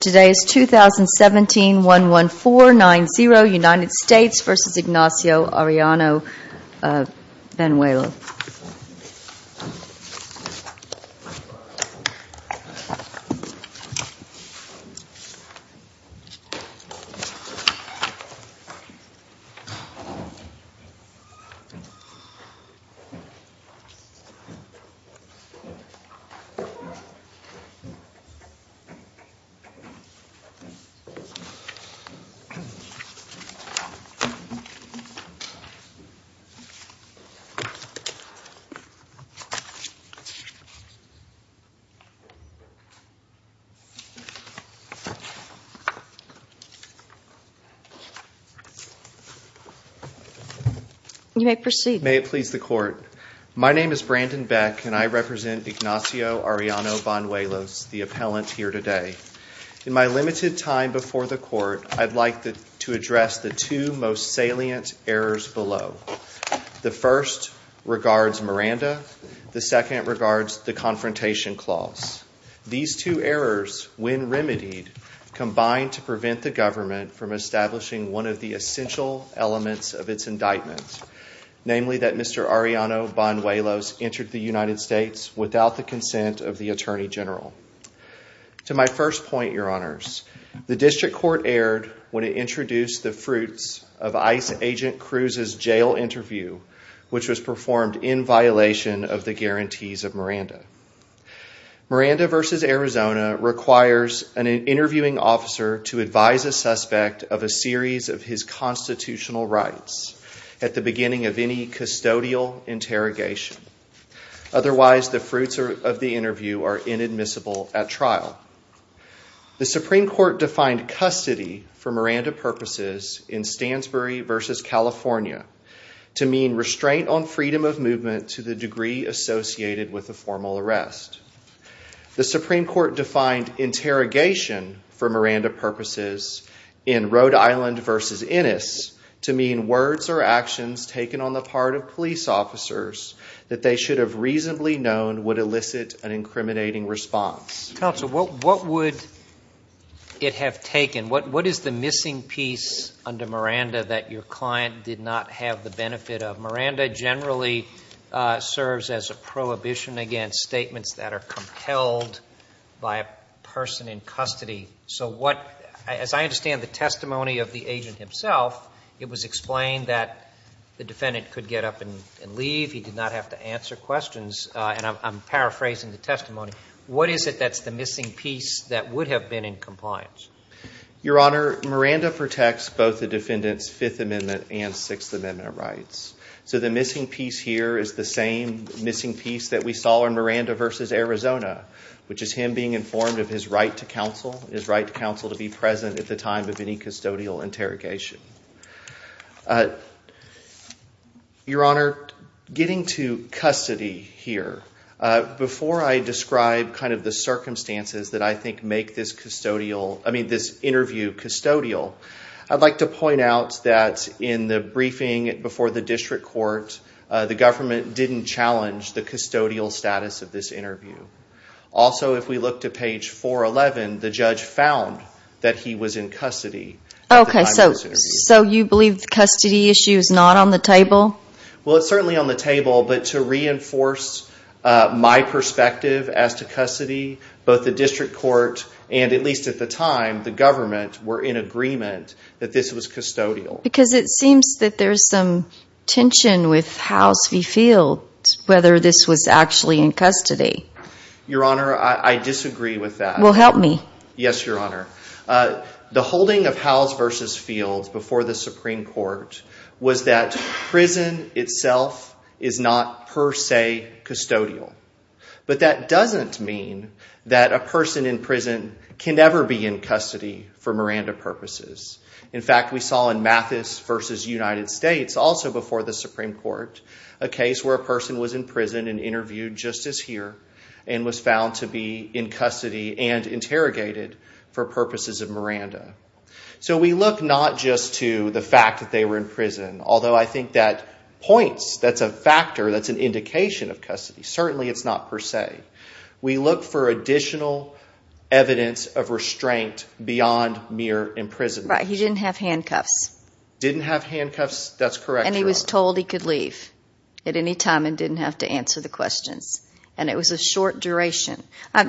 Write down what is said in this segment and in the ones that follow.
Today is 2017-11490, United States v. Ignacio Arellano-Banuelos. May it please the Court, my name is Brandon Beck and I represent Ignacio Arellano-Banuelos, the appellant here today. In my limited time before the Court, I'd like to address the two most salient errors below. The first regards Miranda. The second regards the Confrontation Clause. These two errors, when remedied, combine to prevent the government from establishing one of the essential elements of its indictment, namely that Mr. Arellano-Banuelos entered the United States without the consent of the Attorney General. To my first point, Your Honors, the District Court erred when it introduced the fruits of ICE Agent Cruz's jail interview, which was performed in violation of the guarantees of Miranda. Miranda v. Arizona requires an interviewing officer to advise a suspect of a series of his constitutional rights at the beginning of any custodial interrogation. Otherwise, the fruits of the interview are inadmissible at trial. The Supreme Court defined custody for Miranda purposes in Stansbury v. California to mean restraint on freedom of movement to the degree associated with a formal arrest. The Supreme Court defined interrogation for Miranda purposes in Rhode Island to mean words or actions taken on the part of police officers that they should have reasonably known would elicit an incriminating response. Counsel, what would it have taken? What is the missing piece under Miranda that your client did not have the benefit of? Miranda generally serves as a prohibition against statements that are compelled by a person in custody. So what, as I understand the testimony of the agent himself, it was explained that the defendant could get up and leave. He did not have to answer questions. And I'm paraphrasing the testimony. What is it that's the missing piece that would have been in compliance? Your Honor, Miranda protects both the defendant's Fifth Amendment and Sixth Amendment rights. So the missing piece here is the same missing piece that we saw in Miranda v. Arizona, which is him being informed of his right to counsel, to be present at the time of any custodial interrogation. Your Honor, getting to custody here, before I describe kind of the circumstances that I think make this interview custodial, I'd like to point out that in the briefing before the district court, the government didn't challenge the custodial status of this interview. Also, if we look to page 411, the judge found that he was in custody. Okay, so you believe the custody issue is not on the table? Well, it's certainly on the table, but to reinforce my perspective as to custody, both the district court and, at least at the time, the government were in agreement that this was custodial. Because it seems that there's some with Howes v. Field, whether this was actually in custody. Your Honor, I disagree with that. Well, help me. Yes, Your Honor. The holding of Howes v. Field before the Supreme Court was that prison itself is not per se custodial. But that doesn't mean that a person in prison can never be in custody for Miranda purposes. In fact, we saw in Mathis v. United States, also before the Supreme Court, a case where a person was in prison and interviewed just as here and was found to be in custody and interrogated for purposes of Miranda. So we look not just to the fact that they were in prison, although I think that points, that's a factor, that's an indication of custody. Certainly, it's not per se. We look for additional evidence of restraint beyond mere imprisonment. Right, he didn't have handcuffs. Didn't have handcuffs, that's correct, Your Honor. And he was told he could leave at any time and didn't have to answer the questions. And it was a short duration.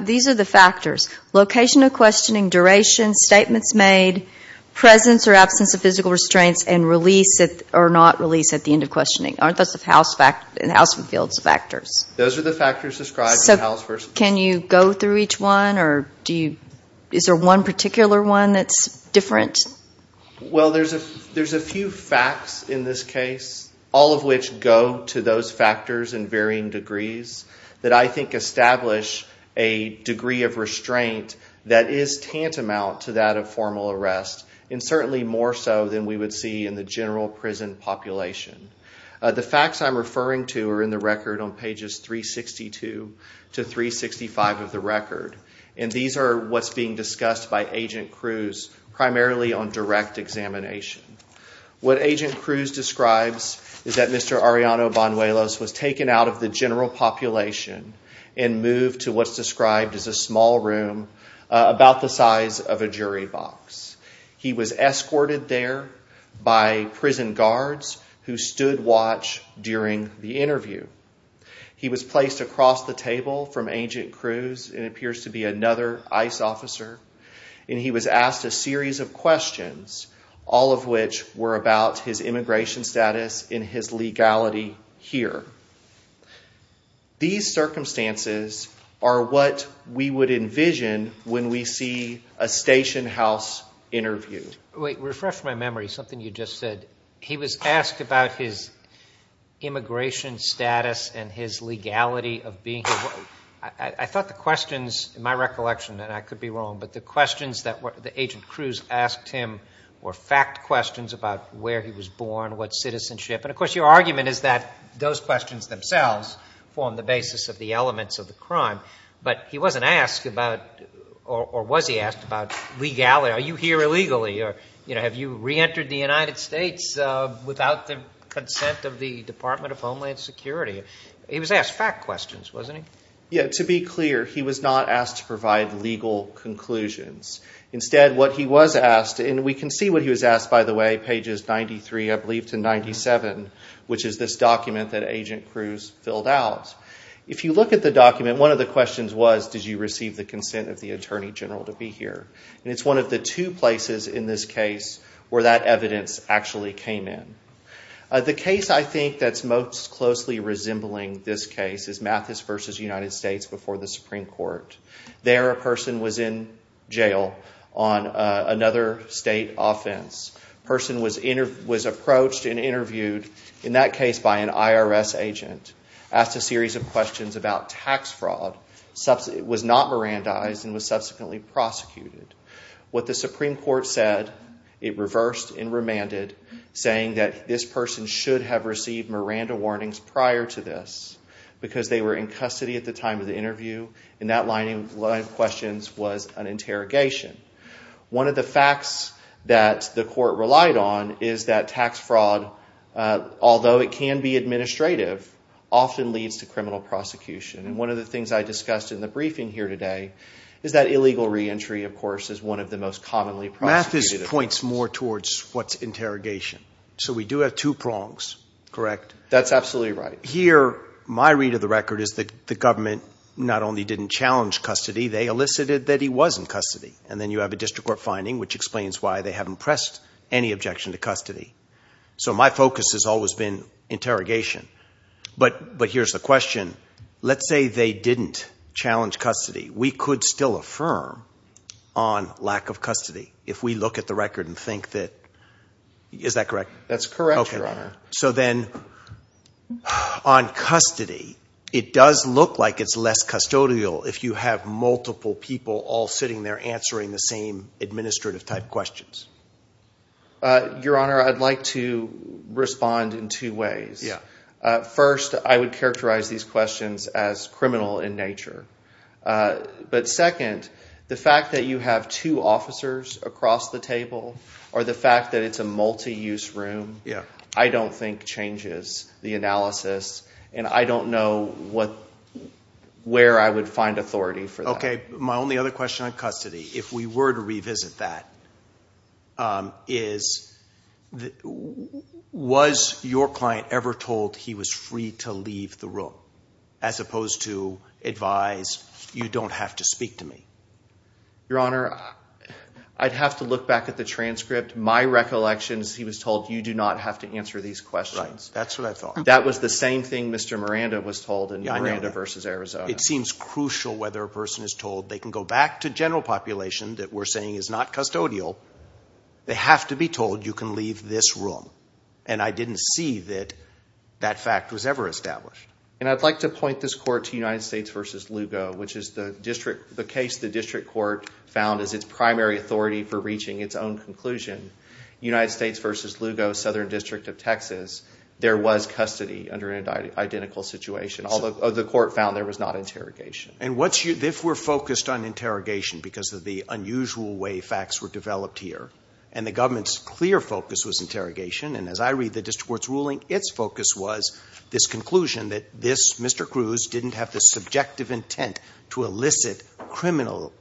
These are the factors. Location of questioning, duration, statements made, presence or absence of physical restraints, and release or not release at the end of questioning. Aren't those in Howes v. Field's factors? Those are the factors described in Howes v. Field. Can you go through each one? Is there one particular one that's different? Well, there's a few facts in this case, all of which go to those factors in varying degrees that I think establish a degree of restraint that is tantamount to that of formal arrest, and certainly more so than we would see in the general prison population. The facts I'm referring to are in the record on pages 362 to 365 of the record. And these are what's being discussed by Agent Cruz primarily on direct examination. What Agent Cruz describes is that Mr. Arellano-Bonuelos was taken out of the general population and moved to what's described as a small room about the size of a jury box. He was escorted there by prison guards who stood watch during the interview. He was placed across the table from Agent Cruz and appears to be another ICE officer, and he was asked a series of questions, all of which were about his immigration status and his legality here. These circumstances are what we would envision when we see a station house interview. Wait. Refresh my memory. Something you just said. He was asked about his immigration status and his legality of being here. I thought the questions, in my recollection, and I could be wrong, but the questions that Agent Cruz asked him were fact questions about where he was born, what citizenship. And of course, your argument is that those questions themselves form the basis of the elements of the crime. But he wasn't asked about, or was he asked about, legality. Are you here illegally? Have you reentered the United States without the consent of the Department of Homeland Security? He was asked fact questions, wasn't he? Yeah. To be clear, he was not asked to provide legal conclusions. Instead, what he was asked, and we can see what he was asked, by the way, pages 93, I believe, to 97, which is this document that Agent Cruz filled out. If you look at the document, one of the questions was, did you receive the consent of the Attorney General to be here? And it's one of the two places in this case where that evidence actually came in. The case, I think, that's most closely resembling this case is Mathis v. United States before the Supreme Court. There, a person was in jail on another state offense. Person was approached and interviewed, in that case, by an IRS agent, asked a series of questions about tax fraud, was not Mirandized, and was subsequently prosecuted. What the Supreme Court said, it reversed and remanded, saying that this person should have received Miranda warnings prior to this, because they were in custody at the time of the interview, and that line of questions was an interrogation. One of the facts that the court relied on is that tax fraud, although it can be administrative, often leads to criminal prosecution. One of the things I discussed in the briefing here today is that illegal re-entry, of course, is one of the most commonly prosecuted. Mathis points more towards what's interrogation, so we do have two prongs, correct? That's absolutely right. Here, my read of the record is that the government not only didn't challenge custody, they elicited that he was in custody, and then you have a district court finding, which explains why they haven't pressed any objection to custody. My focus has always been interrogation, but here's the question. Let's say they didn't challenge custody. We could still affirm on lack of custody, if we look at the record and think that... Is that correct? That's correct, Your Honor. So then, on custody, it does look like it's less custodial if you have multiple people all sitting there answering the same administrative type questions. Your Honor, I'd like to respond in two ways. First, I would characterize these questions as criminal in nature, but second, the fact that you have two officers across the table or the fact that it's a multi-use room, I don't think changes the analysis, and I don't know where I would find authority for that. Okay, my only other question on custody, if we were to revisit that, is was your client ever told he was free to leave the room, as opposed to advise, you don't have to speak to me? Your Honor, I'd have to look back at the transcript. My recollection is he was told, you do not have to answer these questions. Right, that's what I thought. That was the same thing Mr. Miranda was told in Miranda v. Arizona. It seems crucial whether a person is told they can go back to general population that we're saying is not custodial. They have to be told you can leave this room, and I didn't see that that fact was ever established. And I'd like to point this court to United States v. Lugo, which is the case the district court found as its primary authority for reaching its own conclusion. United States v. Lugo, Southern District of Texas, there was custody under an identical situation, although the court found there was not interrogation. And if we're focused on interrogation because of the unusual way facts were developed here, and the government's clear focus was interrogation, and as I read the district court's ruling, its focus was this conclusion that this Mr. Cruz didn't have the subjective intent to elicit criminal.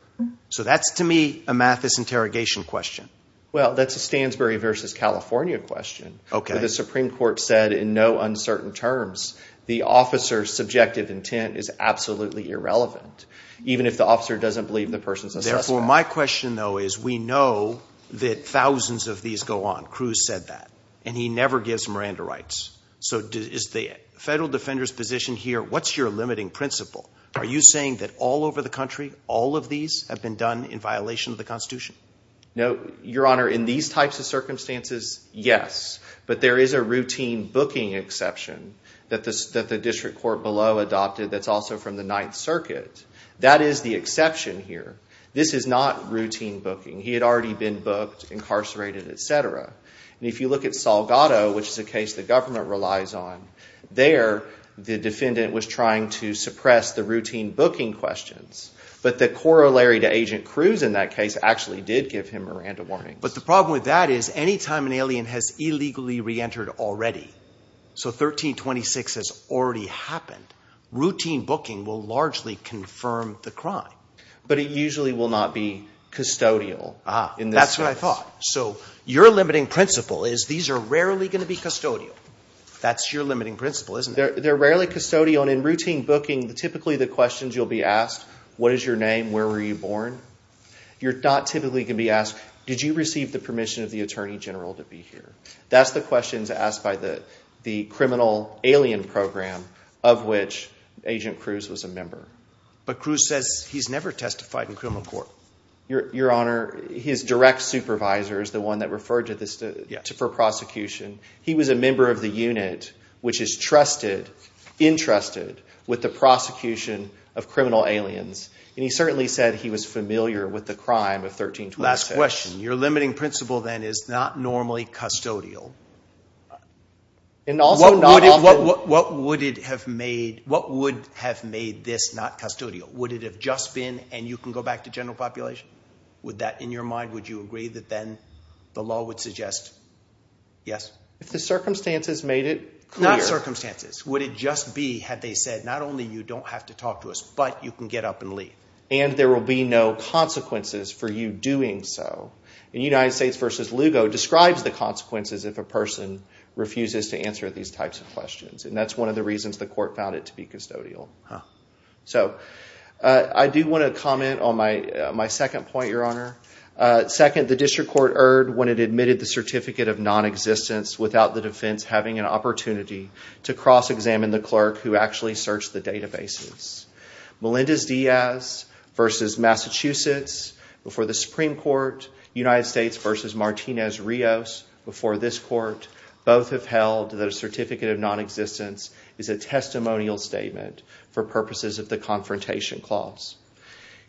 So that's to me a Mathis interrogation question. Well, that's a Stansbury v. California question. Okay. The Supreme Court said in no uncertain terms, the officer's subjective intent is absolutely irrelevant, even if the officer doesn't believe the person's a suspect. Therefore, my question, though, is we know that thousands of these go on. Cruz said that. And he never gives Miranda rights. So is the federal defender's position here, what's your limiting principle? Are you saying that all over the country, all of these have been done in violation of the Constitution? No, Your Honor. In these types of circumstances, yes. But there is a routine booking exception that the district court below adopted that's also from the Ninth Circuit. That is the exception here. This is not routine booking. He had already been booked, incarcerated, etc. And if you look at Salgado, which is a case the government relies on, there, the defendant was trying to suppress the routine booking questions. But the corollary to Agent Cruz in that case actually did give him Miranda warnings. But the problem with that is, any time an alien has illegally reentered already, so 1326 has already happened, routine booking will largely confirm the crime. But it usually will not be custodial. Ah, that's what I thought. So your limiting principle is these are rarely going to be custodial. That's your limiting principle, isn't it? They're rarely custodial. And in routine booking, typically the questions you'll be asked, what is your name? Where were you born? You're not typically going to be asked, did you receive the permission of the Attorney General to be here? That's the questions asked by the criminal alien program of which Agent Cruz was a member. But Cruz says he's never testified in criminal court. Your Honor, his direct supervisor is the one that referred to this for prosecution. He was a member of the unit, which is trusted, entrusted with the prosecution of criminal aliens. And he certainly said he was familiar with the crime of 1326. Last question, your limiting principle then is not normally custodial. What would have made this not custodial? Would it have just been, and you can go back to general population, would that in your mind, would you agree that then the law would suggest, yes? If the circumstances made it clear. Not circumstances. Would it just be had they said, not only you don't have to talk to us, but you can get up and leave. And there will be no consequences for you doing so. And United States versus Lugo describes the consequences if a person refuses to answer these types of questions. And that's one of the reasons the court found it to be custodial. So I do want to comment on my second point, your Honor. Second, the district court erred when it admitted the certificate of non-existence without the defense having an opportunity to cross-examine the clerk who actually searched the databases. Melendez Diaz versus Massachusetts before the Supreme Court. United States versus Martinez-Rios before this court. Both have held that a certificate of non-existence is a testimonial statement for purposes of the confrontation clause.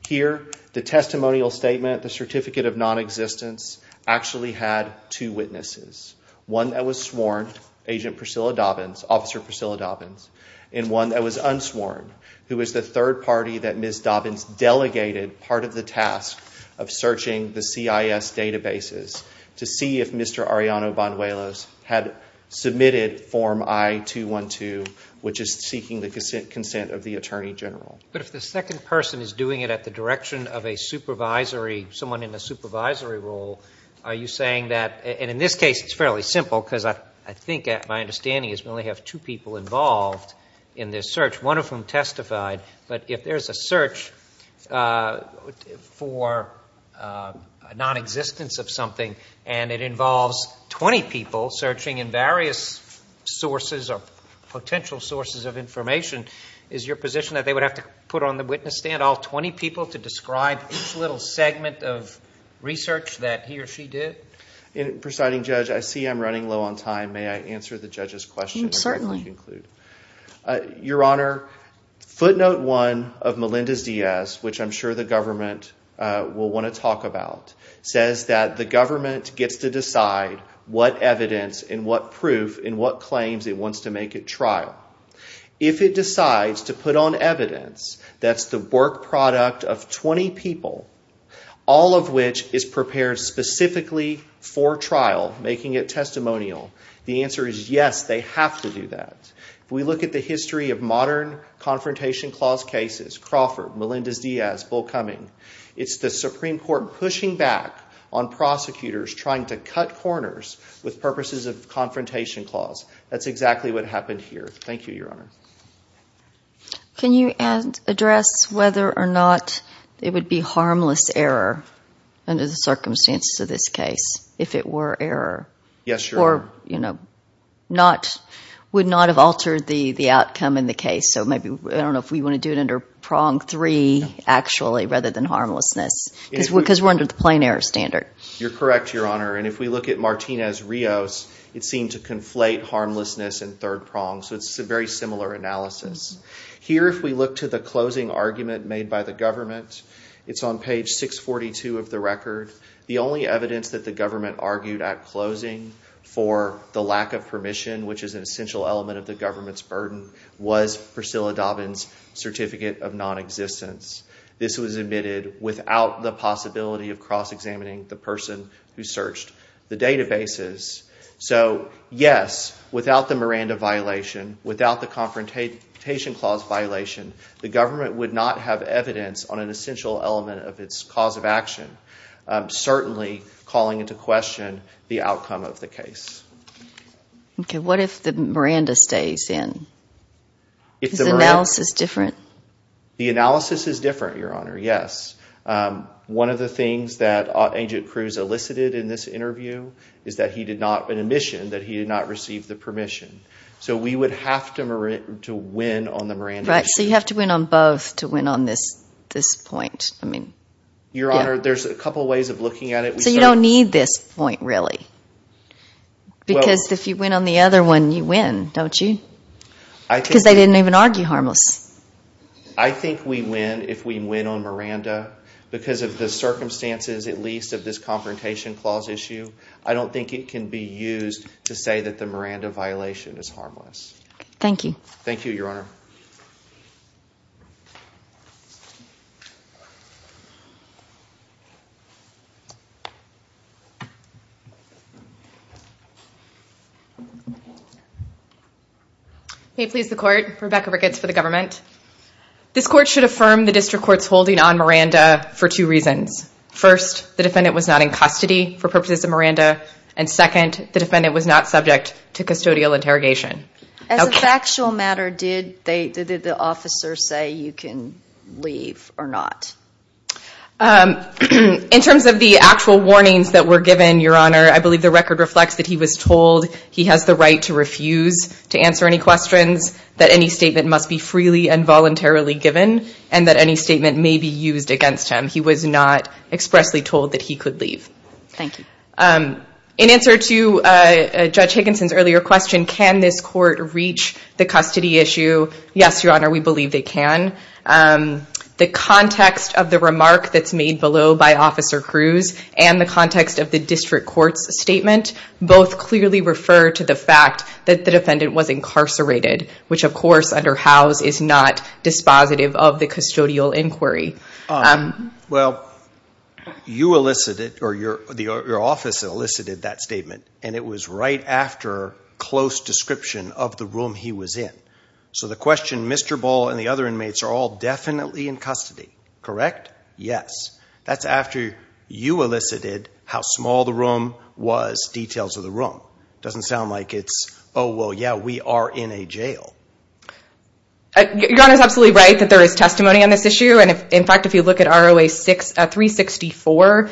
Here, the testimonial statement, the certificate of non-existence, actually had two witnesses. One that was sworn, Agent Priscilla Dobbins, Officer Priscilla Dobbins. And one that was unsworn, who is the third party that Ms. Dobbins delegated part of the task of searching the CIS databases to see if Mr. Arellano-Bonuelos had submitted Form I-212, which is seeking the consent of the Attorney General. But if the second person is doing it at the direction of a supervisory, someone in a supervisory role, are you saying that, and in this case, it's fairly simple because I think my understanding is we only have two people involved in this search, one of whom testified. But if there's a search for a non-existence of something and it involves 20 people searching in various sources or potential sources of information, is your position that they would have to put on the witness stand all 20 people to describe each little segment of research that he or she did? Presiding Judge, I see I'm running low on time. May I answer the judge's question? Certainly. Your Honor, footnote one of Melendez-Diaz, which I'm sure the government will want to talk about, says that the government gets to decide what evidence and what proof and what claims it wants to make at trial. If it decides to put on evidence that's the work product of 20 people, all of which is prepared specifically for trial, making it testimonial, the answer is yes, they have to do that. If we look at the history of modern Confrontation Clause cases, Crawford, Melendez-Diaz, Bull Cumming, it's the Supreme Court pushing back on prosecutors trying to cut corners with purposes of Confrontation Clause. That's exactly what happened here. Thank you, Your Honor. Can you address whether or not it would be harmless error under the circumstances of this case if it were error? Yes, Your Honor. You know, would not have altered the outcome in the case. So maybe, I don't know if we want to do it under prong three, actually, rather than harmlessness, because we're under the plain error standard. You're correct, Your Honor. And if we look at Martinez-Rios, it seemed to conflate harmlessness and third prong. So it's a very similar analysis. Here, if we look to the closing argument made by the government, it's on page 642 of the record. The only evidence that the government argued at closing for the lack of permission, which is an essential element of the government's burden, was Priscilla Dobbin's Certificate of Non-Existence. This was admitted without the possibility of cross-examining the person who searched the databases. So, yes, without the Miranda violation, without the Confrontation Clause violation, the government would not have evidence on an essential element of its cause of action. Certainly calling into question the outcome of the case. Okay, what if the Miranda stays in? Is the analysis different? The analysis is different, Your Honor, yes. One of the things that Agent Cruz elicited in this interview is that he did not, in admission, that he did not receive the permission. So we would have to win on the Miranda issue. Right, so you have to win on both to win on this point. Your Honor, there's a couple ways of looking at it. So you don't need this point, really? Because if you win on the other one, you win, don't you? Because they didn't even argue harmless. I think we win if we win on Miranda because of the circumstances, at least, of this Confrontation Clause issue. I don't think it can be used to say that the Miranda violation is harmless. Thank you. Thank you, Your Honor. May it please the Court, Rebecca Ricketts for the government. This Court should affirm the District Court's holding on Miranda for two reasons. First, the defendant was not in custody for purposes of Miranda. And second, the defendant was not subject to custodial interrogation. As a factual matter, did the officer say you can leave or not? In terms of the actual warnings that were given, Your Honor, I believe the record reflects that he was told he has the right to refuse to answer any questions, that any statement must be freely and voluntarily given, and that any statement may be used against him. He was not expressly told that he could leave. Thank you. In answer to Judge Higginson's earlier question, can this Court reach the custody issue? Yes, Your Honor, we believe they can. The context of the remark that's made below by Officer Cruz and the context of the District Court's statement both clearly refer to the fact that the defendant was incarcerated, which, of course, under House is not dispositive of the custodial inquiry. Well, your office elicited that statement, and it was right after close description of the room he was in. So the question Mr. Bull and the other inmates are all definitely in custody, correct? Yes, that's after you elicited how small the room was, details of the room. It doesn't sound like it's, oh, well, yeah, we are in a jail. Your Honor's absolutely right that there is testimony on this issue, and in fact, if you look at ROA 364,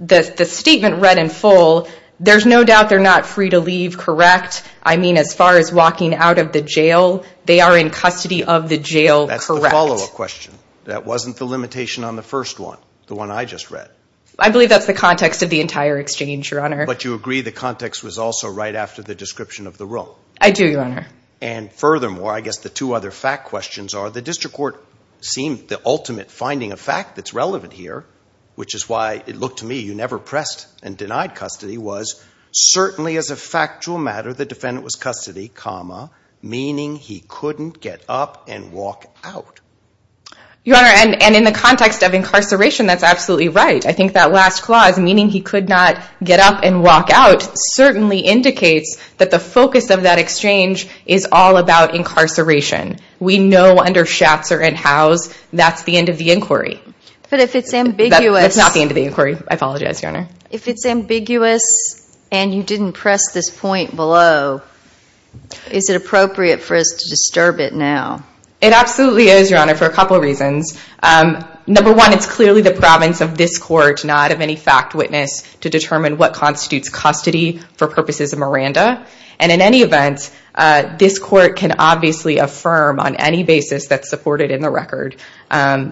the statement read in full, there's no doubt they're not free to leave, correct? I mean, as far as walking out of the jail, they are in custody of the jail, correct? That's the follow-up question. That wasn't the limitation on the first one, the one I just read. I believe that's the context of the entire exchange, Your Honor. But you agree the context was also right after the description of the room? I do, Your Honor. And furthermore, I guess, the two other fact questions are the District Court seemed the ultimate finding of fact that's relevant here, which is why it looked to me you never pressed and denied custody, was certainly as a factual matter, the defendant was custody, meaning he couldn't get up and walk out. Your Honor, and in the context of incarceration, that's absolutely right. I think that last clause, meaning he could not get up and walk out, certainly indicates that the focus of that exchange is all about incarceration. We know under Schatzer and Howes, that's the end of the inquiry. But if it's ambiguous... That's not the end of the inquiry. I apologize, Your Honor. If it's ambiguous and you didn't press this point below, is it appropriate for us to disturb it now? It absolutely is, Your Honor, for a couple of reasons. Number one, it's clearly the province of this court not of any fact witness to determine what constitutes custody for purposes of Miranda. And in any event, this court can obviously affirm on any basis that's supported in the record.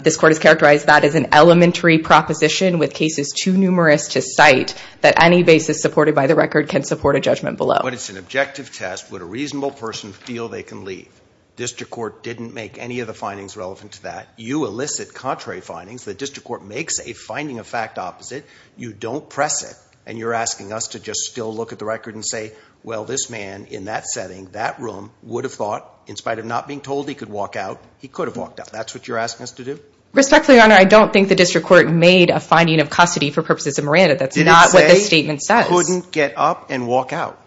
This court has characterized that as an elementary proposition with cases too numerous to cite that any basis supported by the record can support a judgment below. But it's an objective test. Would a reasonable person feel they can leave? District Court didn't make any of the findings relevant to that. You elicit contrary findings. The district court makes a finding of fact opposite. You don't press it. And you're asking us to just still look at the record and say, well, this man in that setting, that room would have thought, in spite of not being told he could walk out, he could have walked out. That's what you're asking us to do? Respectfully, Your Honor, I don't think the district court made a finding of custody for purposes of Miranda. That's not what the statement says. He couldn't get up and walk out.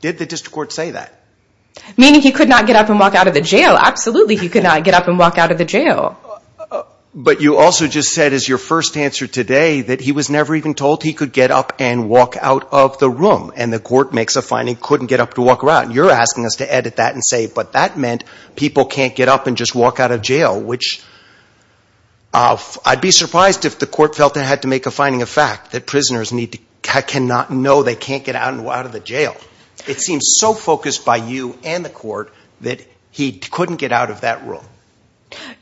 Did the district court say that? Meaning he could not get up and walk out of the jail. Absolutely, he could not get up and walk out of the jail. But you also just said as your first answer today that he was never even told he could get up and walk out of the room. And the court makes a finding couldn't get up to walk around. You're asking us to edit that and say, but that meant people can't get up and just walk out of jail, which I'd be surprised if the court felt they had to make a finding of fact that prisoners cannot know they can't get out of the jail. It seems so focused by you and the court that he couldn't get out of that room.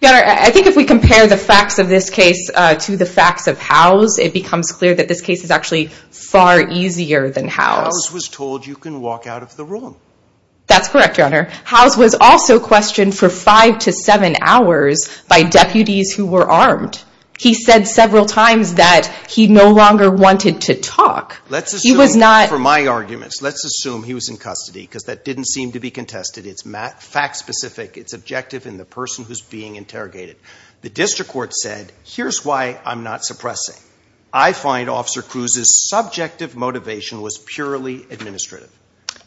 Your Honor, I think if we compare the facts of this case to the facts of Howe's, it becomes clear that this case is actually far easier than Howe's. Howe's was told you can walk out of the room. That's correct, Your Honor. Howe's was also questioned for five to seven hours by deputies who were armed. He said several times he no longer wanted to talk. For my arguments, let's assume he was in custody because that didn't seem to be contested. It's fact-specific. It's objective in the person who's being interrogated. The district court said, here's why I'm not suppressing. I find Officer Cruz's subjective motivation was purely administrative.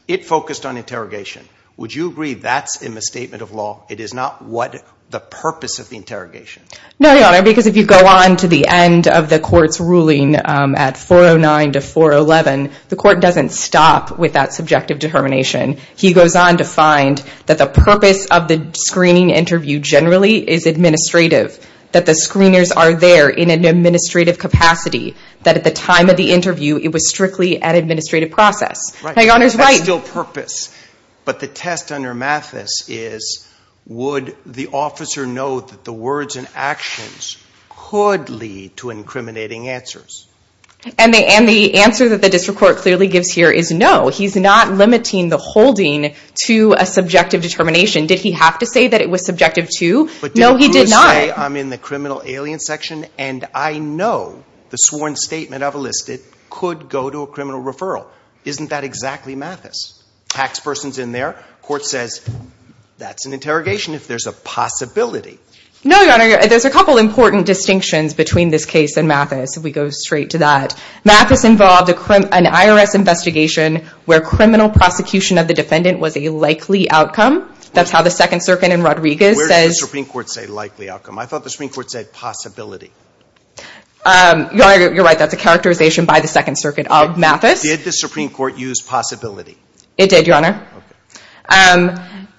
It focused on interrogation. Would you agree that's a misstatement of law? It is not what the purpose of the interrogation. No, Your Honor, because if you go on to the end of the court's ruling at 409 to 411, the court doesn't stop with that subjective determination. He goes on to find that the purpose of the screening interview generally is administrative. That the screeners are there in an administrative capacity. That at the time of the interview, it was strictly an administrative process. That's still purpose. But the test under Mathis is, would the officer know that the words and actions could lead to incriminating answers? And the answer that the district court clearly gives here is no. He's not limiting the holding to a subjective determination. Did he have to say that it was subjective too? No, he did not. I'm in the criminal alien section and I know the sworn statement I've listed could go to a criminal referral. Isn't that exactly Mathis? Tax person's in there. Court says that's an interrogation if there's a possibility. No, Your Honor, there's a couple important distinctions between this case and Mathis. If we go straight to that. Mathis involved an IRS investigation where criminal prosecution of the defendant was a likely outcome. That's how the Second Circuit in Rodriguez says. Where does the Supreme Court say likely outcome? I thought the Supreme Court said possibility. Your Honor, you're right. That's a characterization by the Second Circuit of Mathis. Did the Supreme Court use possibility? It did, Your Honor.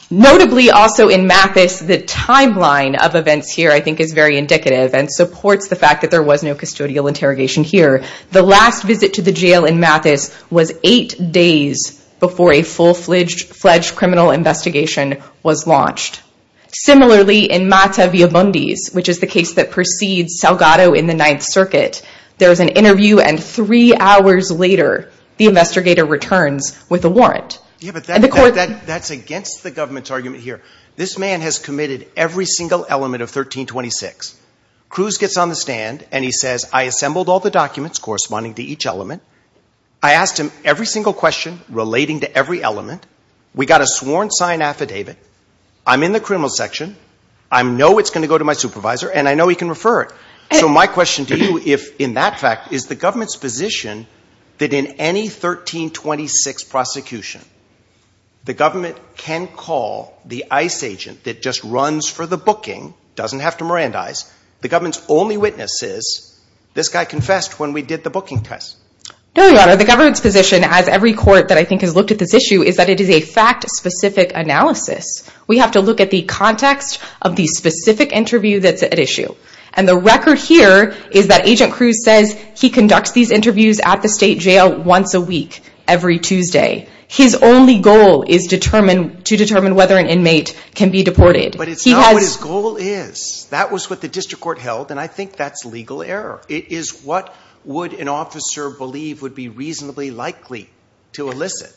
Notably also in Mathis, the timeline of events here, I think is very indicative and supports the fact that there was no custodial interrogation here. The last visit to the jail in Mathis was eight days before a full-fledged criminal investigation was launched. Similarly, in Mata-Villabundis, which is the case that precedes Salgado in the Ninth Circuit, there was an interview and three hours later, the investigator returns with a warrant. That's against the government's argument here. This man has committed every single element of 1326. Cruz gets on the stand and he says, I assembled all the documents corresponding to each element. I asked him every single question relating to every element. We got a sworn sign affidavit. I'm in the criminal section. I know it's going to go to my supervisor and I know he can refer it. So my question to you, if in that fact, is the government's position that in any 1326 prosecution, the government can call the ICE agent that just runs for the booking, doesn't have to Mirandize, the government's only witness is, this guy confessed when we did the booking test? No, Your Honor. The government's position, as every court that I think has looked at this issue, is that it is a fact-specific analysis. We have to look at the context of the specific interview that's at issue. And the record here is that Agent Cruz says he conducts these interviews at the state jail once a week, every Tuesday. His only goal is to determine whether an inmate can be deported. But it's not what his goal is. That was what the district court held. And I think that's legal error. It is what would an officer believe would be reasonably likely to elicit.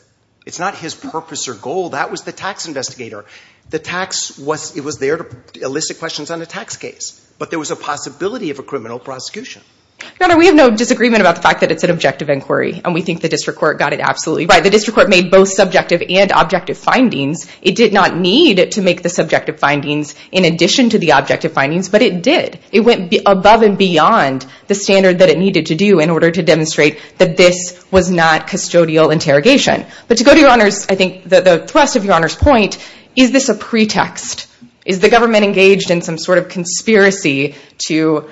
It's not his purpose or goal. That was the tax investigator. The tax was, it was there to elicit questions on a tax case. But there was a possibility of a criminal prosecution. Your Honor, we have no disagreement about the fact that it's an objective inquiry. And we think the district court got it absolutely right. The district court made both subjective and objective findings. It did not need to make the subjective findings in addition to the objective findings. But it did. It went above and beyond the standard that it needed to do in order to demonstrate that this was not custodial interrogation. But to go to Your Honor's, I think the thrust of Your Honor's point, is this a pretext? Is the government engaged in some sort of conspiracy to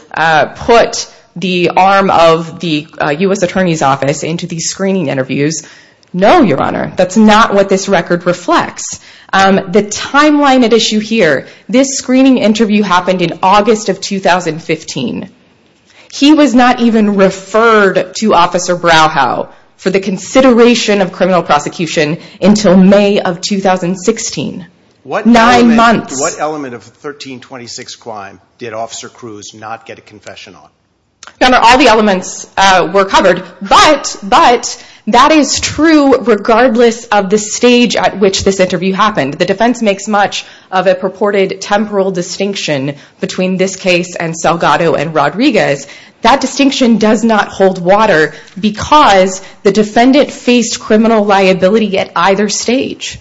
put the arm of the U.S. Attorney's Office into these screening interviews? No, Your Honor. That's not what this record reflects. The timeline at issue here, this screening interview happened in August of 2015. He was not even referred to Officer Brauhau for the consideration of criminal prosecution until May of 2016. Nine months. What element of the 1326 crime did Officer Cruz not get a confession on? Your Honor, all the elements were covered. But that is true regardless of the stage at which this interview happened. The defense makes much of a purported temporal distinction between this case and Salgado and Rodriguez. That distinction does not hold water because the defendant faced criminal liability at either stage.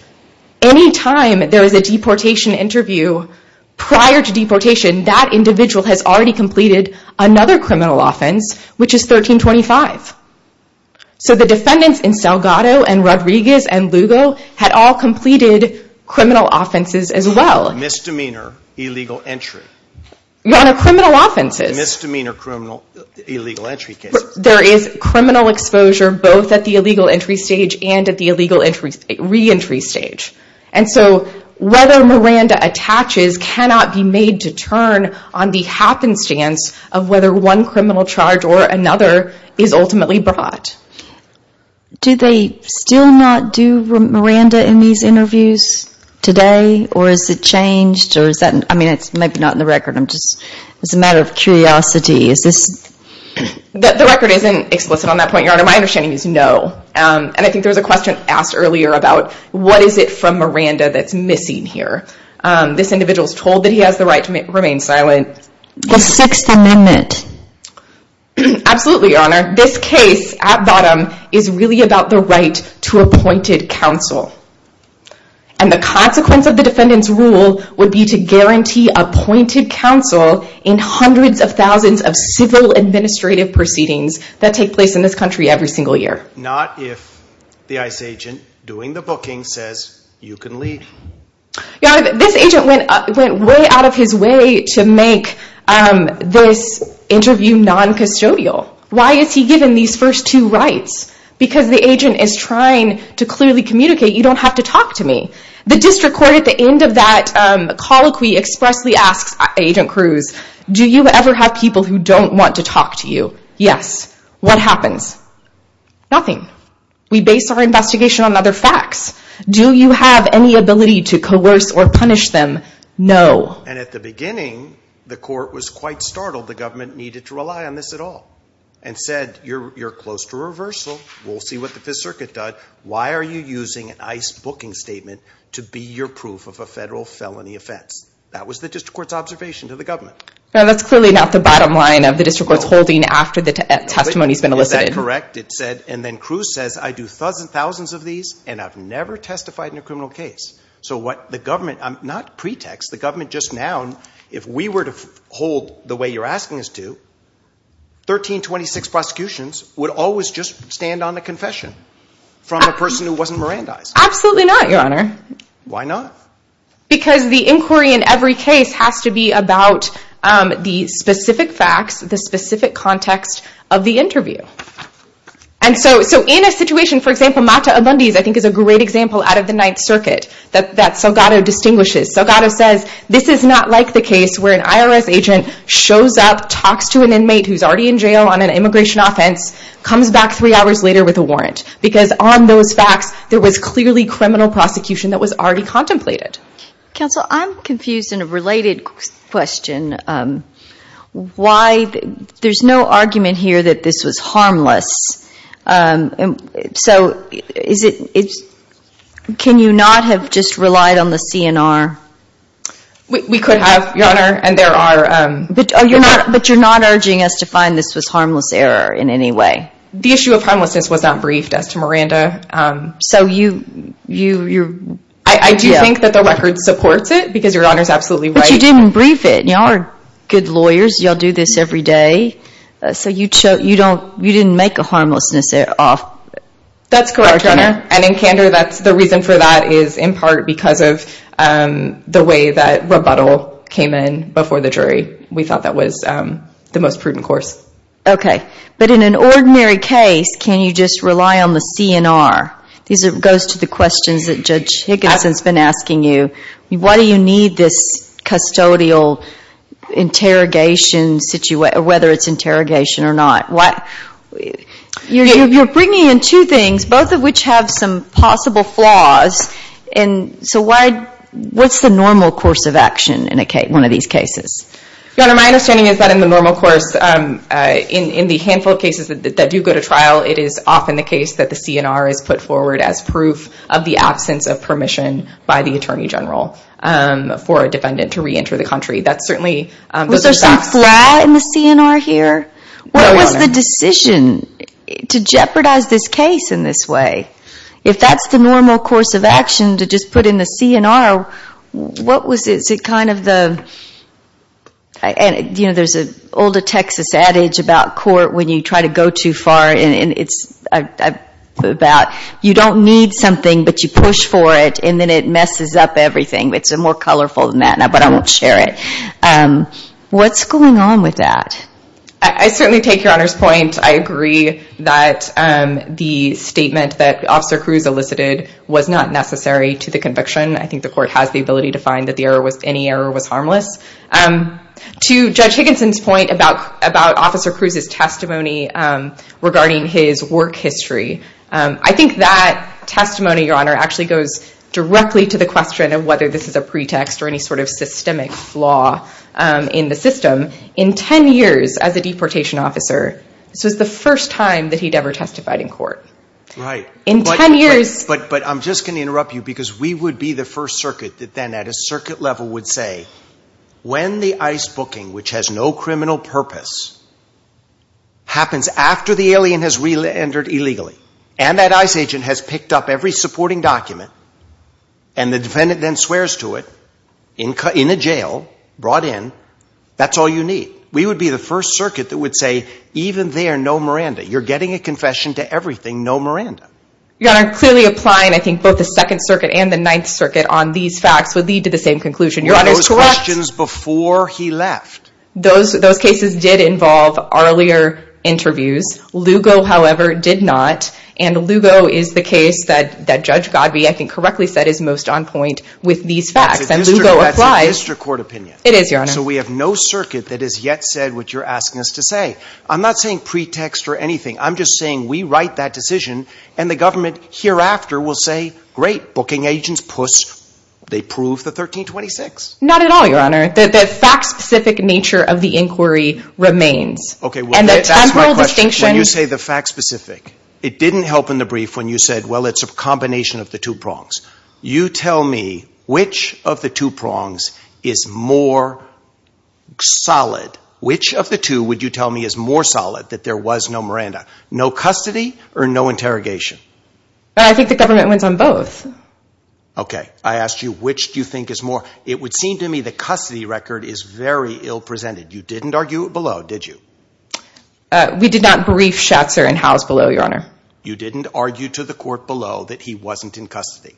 Any time there was a deportation interview, prior to deportation, another criminal offense, which is 1325. So the defendants in Salgado and Rodriguez and Lugo had all completed criminal offenses as well. Misdemeanor, illegal entry. Your Honor, criminal offenses. Misdemeanor, criminal, illegal entry cases. There is criminal exposure both at the illegal entry stage and at the illegal re-entry stage. And so whether Miranda attaches cannot be made to turn on the happenstance of whether one criminal charge or another is ultimately brought. Do they still not do Miranda in these interviews today? Or has it changed? Or is that, I mean, it's maybe not in the record. I'm just, it's a matter of curiosity. Is this? The record isn't explicit on that point, Your Honor. My understanding is no. And I think there was a question asked earlier about what is it from Miranda that's missing here? This individual is told that he has the right to remain silent. The Sixth Amendment. Absolutely, Your Honor. This case, at bottom, is really about the right to appointed counsel. And the consequence of the defendant's rule would be to guarantee appointed counsel in hundreds of thousands of civil administrative proceedings that take place in this country every single year. Not if the ICE agent doing the booking says, you can leave. Your Honor, this agent went way out of his way to make this interview non-custodial. Why is he given these first two rights? Because the agent is trying to clearly communicate, you don't have to talk to me. The district court at the end of that colloquy expressly asks Agent Cruz, do you ever have people who don't want to talk to you? Yes. What happens? Nothing. We base our investigation on other facts. Do you have any ability to coerce or punish them? No. And at the beginning, the court was quite startled the government needed to rely on this at all. And said, you're close to reversal. We'll see what the Fifth Circuit does. Why are you using an ICE booking statement to be your proof of a federal felony offense? That was the district court's observation to the government. That's clearly not the bottom line of the district court's holding after the testimony's been elicited. Is that correct? It said, and then Cruz says, I do thousands of these and I've never testified in a criminal case. So what the government, not pretext, the government just now, if we were to hold the way you're asking us to, 1326 prosecutions would always just stand on the confession from the person who wasn't Mirandized. Absolutely not, your honor. Why not? Because the inquiry in every case has to be about the specific facts, the specific context of the interview. And so in a situation, for example, Mata Abundes, I think is a great example out of the Ninth Circuit that Salgado distinguishes. Salgado says, this is not like the case where an IRS agent shows up, talks to an inmate who's already in jail on an immigration offense, comes back three hours later with a warrant. Because on those facts, there was clearly criminal prosecution that was already contemplated. Counsel, I'm confused in a related question. that this was harmless. Can you not have just relied on the CNR? We could have, your honor. And there are... But you're not urging us to find this was harmless error in any way. The issue of harmlessness was not briefed as to Miranda. So you... I do think that the record supports it because your honor is absolutely right. But you didn't brief it. Y'all are good lawyers. Y'all do this every day. So you didn't make a harmlessness off. That's correct, your honor. And in candor, the reason for that is in part because of the way that rebuttal came in before the jury. We thought that was the most prudent course. Okay. But in an ordinary case, can you just rely on the CNR? These goes to the questions that Judge Higginson's been asking you. Why do you need this custodial interrogation situation, whether it's interrogation or not? You're bringing in two things, both of which have some possible flaws. And so why... What's the normal course of action? One of these cases. Your honor, my understanding is that in the normal course, in the handful of cases that do go to trial, it is often the case that the CNR is put forward as proof of the absence of permission by the attorney general for a defendant to reenter the country. That's certainly... Was there some flaw in the CNR here? What was the decision to jeopardize this case in this way? If that's the normal course of action to just put in the CNR, what was it? Is it kind of the... There's an old Texas adage about court when you try to go too far and it's about you don't need something, but you push for it and then it messes up everything. It's more colorful than that, but I won't share it. What's going on with that? I certainly take your honor's point. I agree that the statement that Officer Cruz elicited was not necessary to the conviction. I think the court has the ability to find that any error was harmless. To Judge Higginson's point about Officer Cruz's testimony regarding his work history, I think that testimony, your honor, actually goes directly to the question of whether this is a pretext or any sort of systemic flaw in the system. In 10 years as a deportation officer, this was the first time that he'd ever testified in court. Right. But I'm just going to interrupt you because we would be the first circuit that then at a circuit level would say, when the ICE booking, which has no criminal purpose, happens after the alien has re-entered illegally and that ICE agent has picked up every supporting document and the defendant then swears to it in a jail, brought in, that's all you need. We would be the first circuit that would say, even there, no Miranda. You're getting a confession to everything, no Miranda. Your honor, clearly applying, both the second circuit and the ninth circuit on these facts would lead to the same conclusion. Your honor is correct. Those questions before he left. Those cases did involve earlier interviews. Lugo, however, did not. And Lugo is the case that Judge Godby, I think correctly said, is most on point with these facts. That's a district court opinion. It is, your honor. We have no circuit that has yet said what you're asking us to say. I'm not saying pretext or anything. I'm just saying we write that decision and the government hereafter will say, great booking agents, puss, they prove the 1326. Not at all, your honor. The fact specific nature of the inquiry remains. OK, well, that's my question. When you say the fact specific, it didn't help in the brief when you said, well, it's a combination of the two prongs. You tell me which of the two prongs is more solid. Which of the two would you tell me is more solid that there was no Miranda? No custody or no interrogation? I think the government wins on both. OK, I asked you, which do you think is more? It would seem to me the custody record is very ill presented. You didn't argue below, did you? We did not brief Schatzer in house below, your honor. You didn't argue to the court below that he wasn't in custody.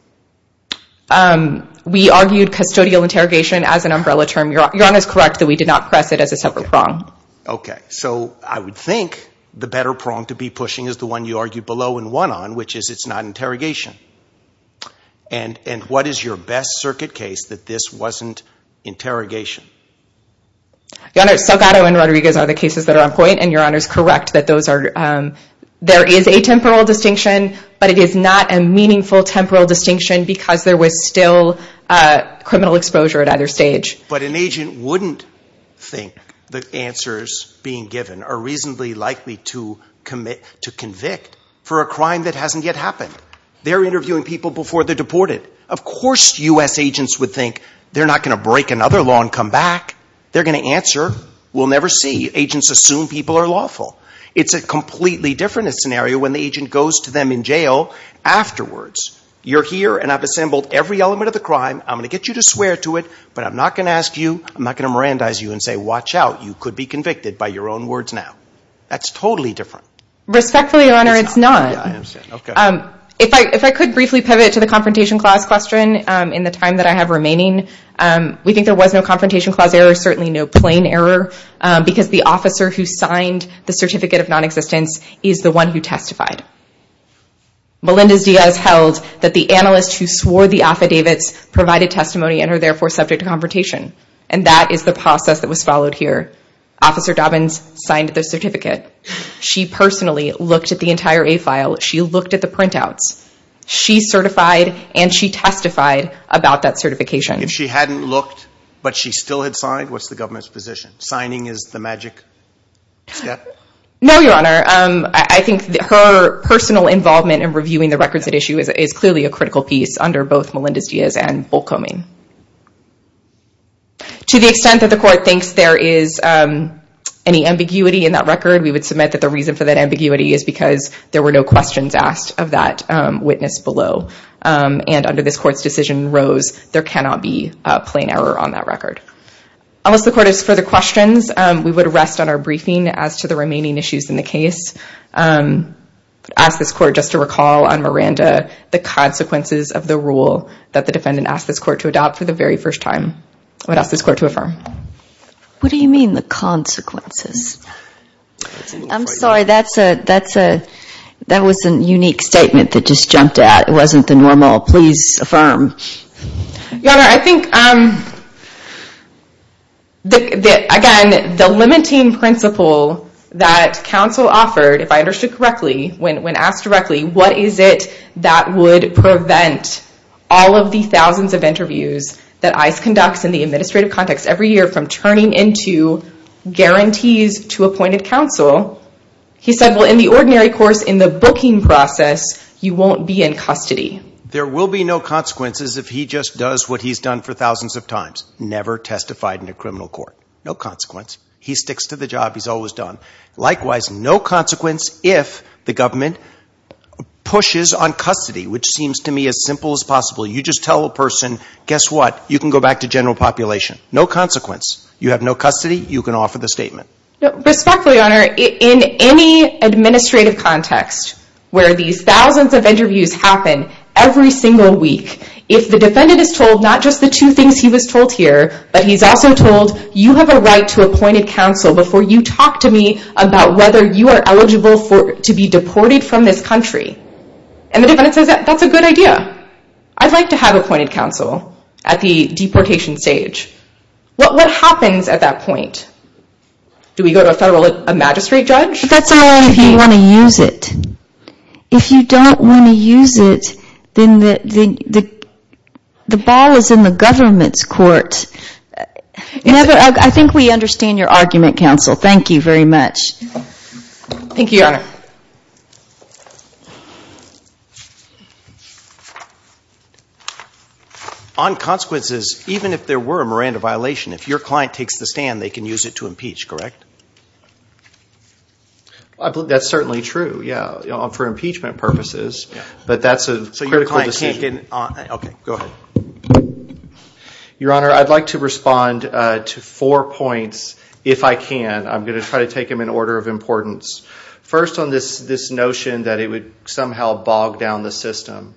We argued custodial interrogation as an umbrella term. Your honor is correct that we did not press it as a separate prong. OK, so I would think the better prong to be pushing is the one you argued below and one on, which is it's not interrogation. And and what is your best circuit case that this wasn't interrogation? Your honor, Salgado and Rodriguez are the cases that are on point, and your honor is correct that those are. There is a temporal distinction, but it is not a meaningful temporal distinction because there was still criminal exposure at either stage. But an agent wouldn't think the answers being given are reasonably likely to commit to convict for a crime that hasn't yet happened. They're interviewing people before they're deported. Of course, US agents would think they're not going to break another law and come back. They're going to answer. We'll never see agents assume people are lawful. It's a completely different scenario when the agent goes to them in jail afterwards. You're here and I've assembled every element of the crime. I'm going to get you to swear to it, but I'm not going to ask you. I'm not going to Mirandize you and say, watch out. You could be convicted by your own words now. That's totally different. Respectfully, Your Honor, it's not. If I could briefly pivot to the Confrontation Clause question in the time that I have remaining, we think there was no Confrontation Clause error, certainly no plain error because the officer who signed the Certificate of Non-Existence is the one who testified. Melendez-Diaz held that the analyst who swore the affidavits subject to confrontation. And that is the process that was followed here. Officer Dobbins signed the certificate. She personally looked at the entire A file. She looked at the printouts. She certified and she testified about that certification. If she hadn't looked, but she still had signed, what's the government's position? Signing is the magic step? No, Your Honor. I think her personal involvement in reviewing the records at issue is clearly a critical piece under both Melendez-Diaz and Bolkoming. To the extent that the court thinks there is any ambiguity in that record, we would submit that the reason for that ambiguity is because there were no questions asked of that witness below. And under this court's decision, Rose, there cannot be a plain error on that record. Unless the court has further questions, we would rest on our briefing as to the remaining issues in the case. Ask this court just to recall on Miranda the consequences of the rule that the defendant asked this court to adopt for the very first time. I would ask this court to affirm. What do you mean the consequences? I'm sorry, that was a unique statement that just jumped out. It wasn't the normal, please affirm. Your Honor, I think, again, the limiting principle that counsel offered, if I understood correctly, when asked directly, what is it that would prevent all of the thousands of interviews that ICE conducts in the administrative context every year from turning into guarantees to appointed counsel? He said, well, in the ordinary course, in the booking process, you won't be in custody. There will be no consequences if he just does what he's done for thousands of times, never testified in a criminal court. No consequence. He sticks to the job he's always done. Likewise, no consequence if the government pushes on custody, which seems to me as simple as possible. You just tell a person, guess what? You can go back to general population. No consequence. You have no custody. You can offer the statement. Respectfully, Your Honor, in any administrative context where these thousands of interviews happen every single week, if the defendant is told not just the two things he was told here, but he's also told, you have a right to appointed counsel before you talk to me about whether you are eligible to be deported from this country. And the defendant says, that's a good idea. I'd like to have appointed counsel at the deportation stage. What happens at that point? Do we go to a magistrate judge? That's only if you want to use it. If you don't want to use it, then the ball is in the government's court. I think we understand your argument, counsel. Thank you very much. Thank you, Your Honor. On consequences, even if there were a Miranda violation, if your client takes the stand, they can use it to impeach, correct? That's certainly true, yeah. For impeachment purposes. But that's a critical decision. Okay, go ahead. Your Honor, I'd like to respond to four points, if I can. I'm going to try to take them in order of importance. First on this notion that it would somehow bog down the system.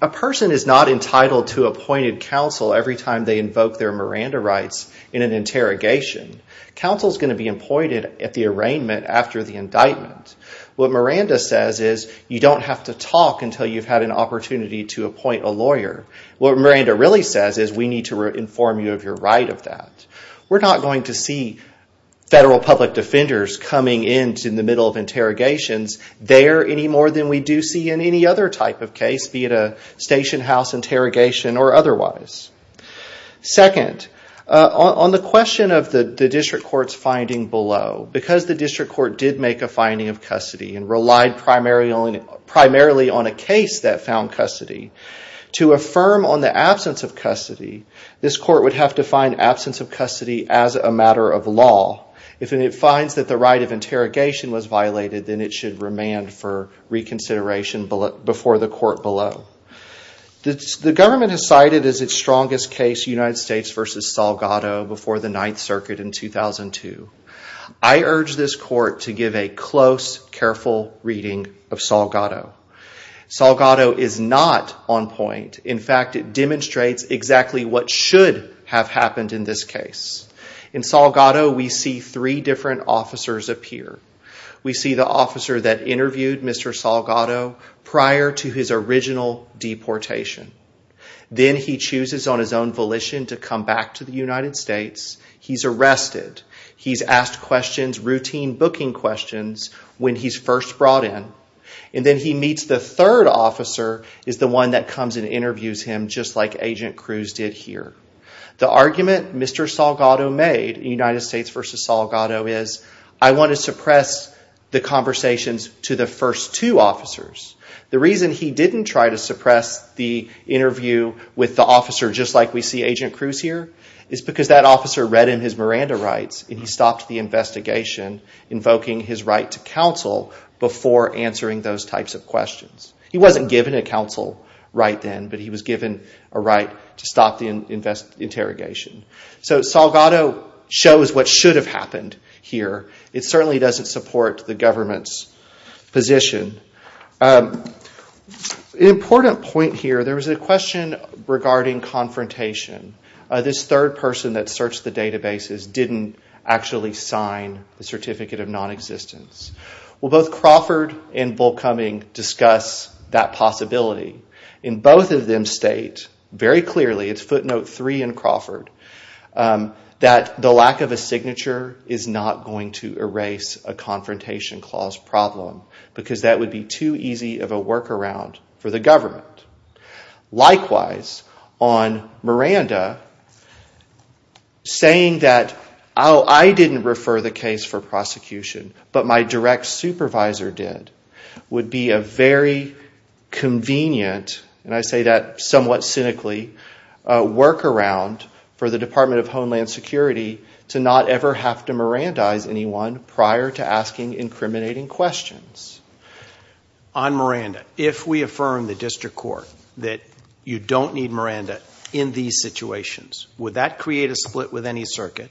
A person is not entitled to appointed counsel every time they invoke their Miranda rights in an interrogation. Counsel is going to be appointed at the arraignment after the indictment. What Miranda says is, you don't have to talk until you've had an opportunity to appoint a lawyer. What Miranda really says is, we need to inform you of your right of that. We're not going to see federal public defenders coming in in the middle of interrogations there any more than we do see in any other type of case, be it a station house interrogation or otherwise. Second, on the question of the district court's finding below, because the district court did make a finding of custody and relied primarily on a case that found custody, to affirm on the absence of custody, this court would have to find absence of custody as a matter of law. If it finds that the right of interrogation was violated, then it should remand for reconsideration before the court below. The government has cited as its strongest case United States versus Salgado before the Ninth Circuit in 2002. I urge this court to give a close, careful reading of Salgado. Salgado is not on point. In fact, it demonstrates exactly what should have happened in this case. In Salgado, we see three different officers appear. We see the officer that interviewed Mr. Salgado prior to his original deportation. Then he chooses on his own volition to come back to the United States. He's arrested. He's asked questions, routine booking questions when he's first brought in. And then he meets the third officer is the one that comes and interviews him just like Agent Cruz did here. The argument Mr. Salgado made in United States versus Salgado is I want to suppress the conversations to the first two officers. The reason he didn't try to suppress the interview with the officer just like we see Agent Cruz here is because that officer read in his Miranda rights and he stopped the investigation invoking his right to counsel before answering those types of questions. He wasn't given a counsel right then, but he was given a right to stop the interrogation. So Salgado shows what should have happened here. It certainly doesn't support the government's position. An important point here, there was a question regarding confrontation. This third person that searched the databases didn't actually sign the certificate of non-existence. Well, both Crawford and Bullcoming discuss that possibility. And both of them state very clearly, it's footnote three in Crawford, that the lack of a signature is not going to erase a confrontation clause problem because that would be too easy of a workaround for the government. Likewise, on Miranda, saying that, oh, I didn't refer the case for prosecution, but my direct supervisor did, would be a very convenient, and I say that somewhat cynically, workaround for the Department of Homeland Security to not ever have to Mirandize anyone prior to asking incriminating questions. On Miranda, if we affirm the district court that you don't need Miranda in these situations, would that create a split with any circuit?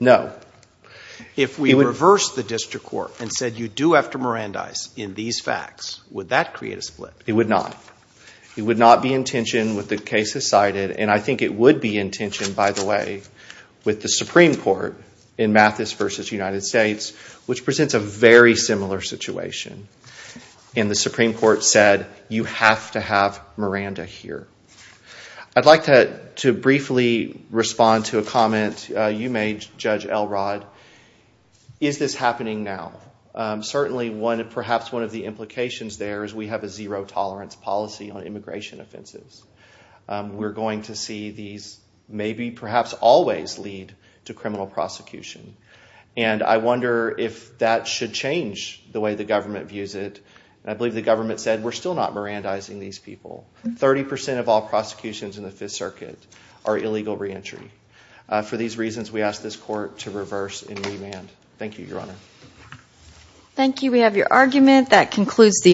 No. If we reverse the district court and said you do have to Mirandize in these facts, would that create a split? It would not. It would not be intentioned with the cases cited, and I think it would be intentioned, by the way, with the Supreme Court in Mathis versus United States, which presents a very similar situation. And the Supreme Court said you have to have Miranda here. I'd like to briefly respond to a comment you made, Judge Elrod. Is this happening now? Certainly, perhaps one of the implications there is we have a zero tolerance policy on immigration offenses. We're going to see these, perhaps, always lead to criminal prosecution. I wonder if that should change the way the government views it. I believe the government said we're still not Mirandizing these people. 30% of all prosecutions in the Fifth Circuit are illegal reentry. For these reasons, we ask this court to reverse and remand. Thank you, Your Honor. Thank you. We have your argument. That concludes the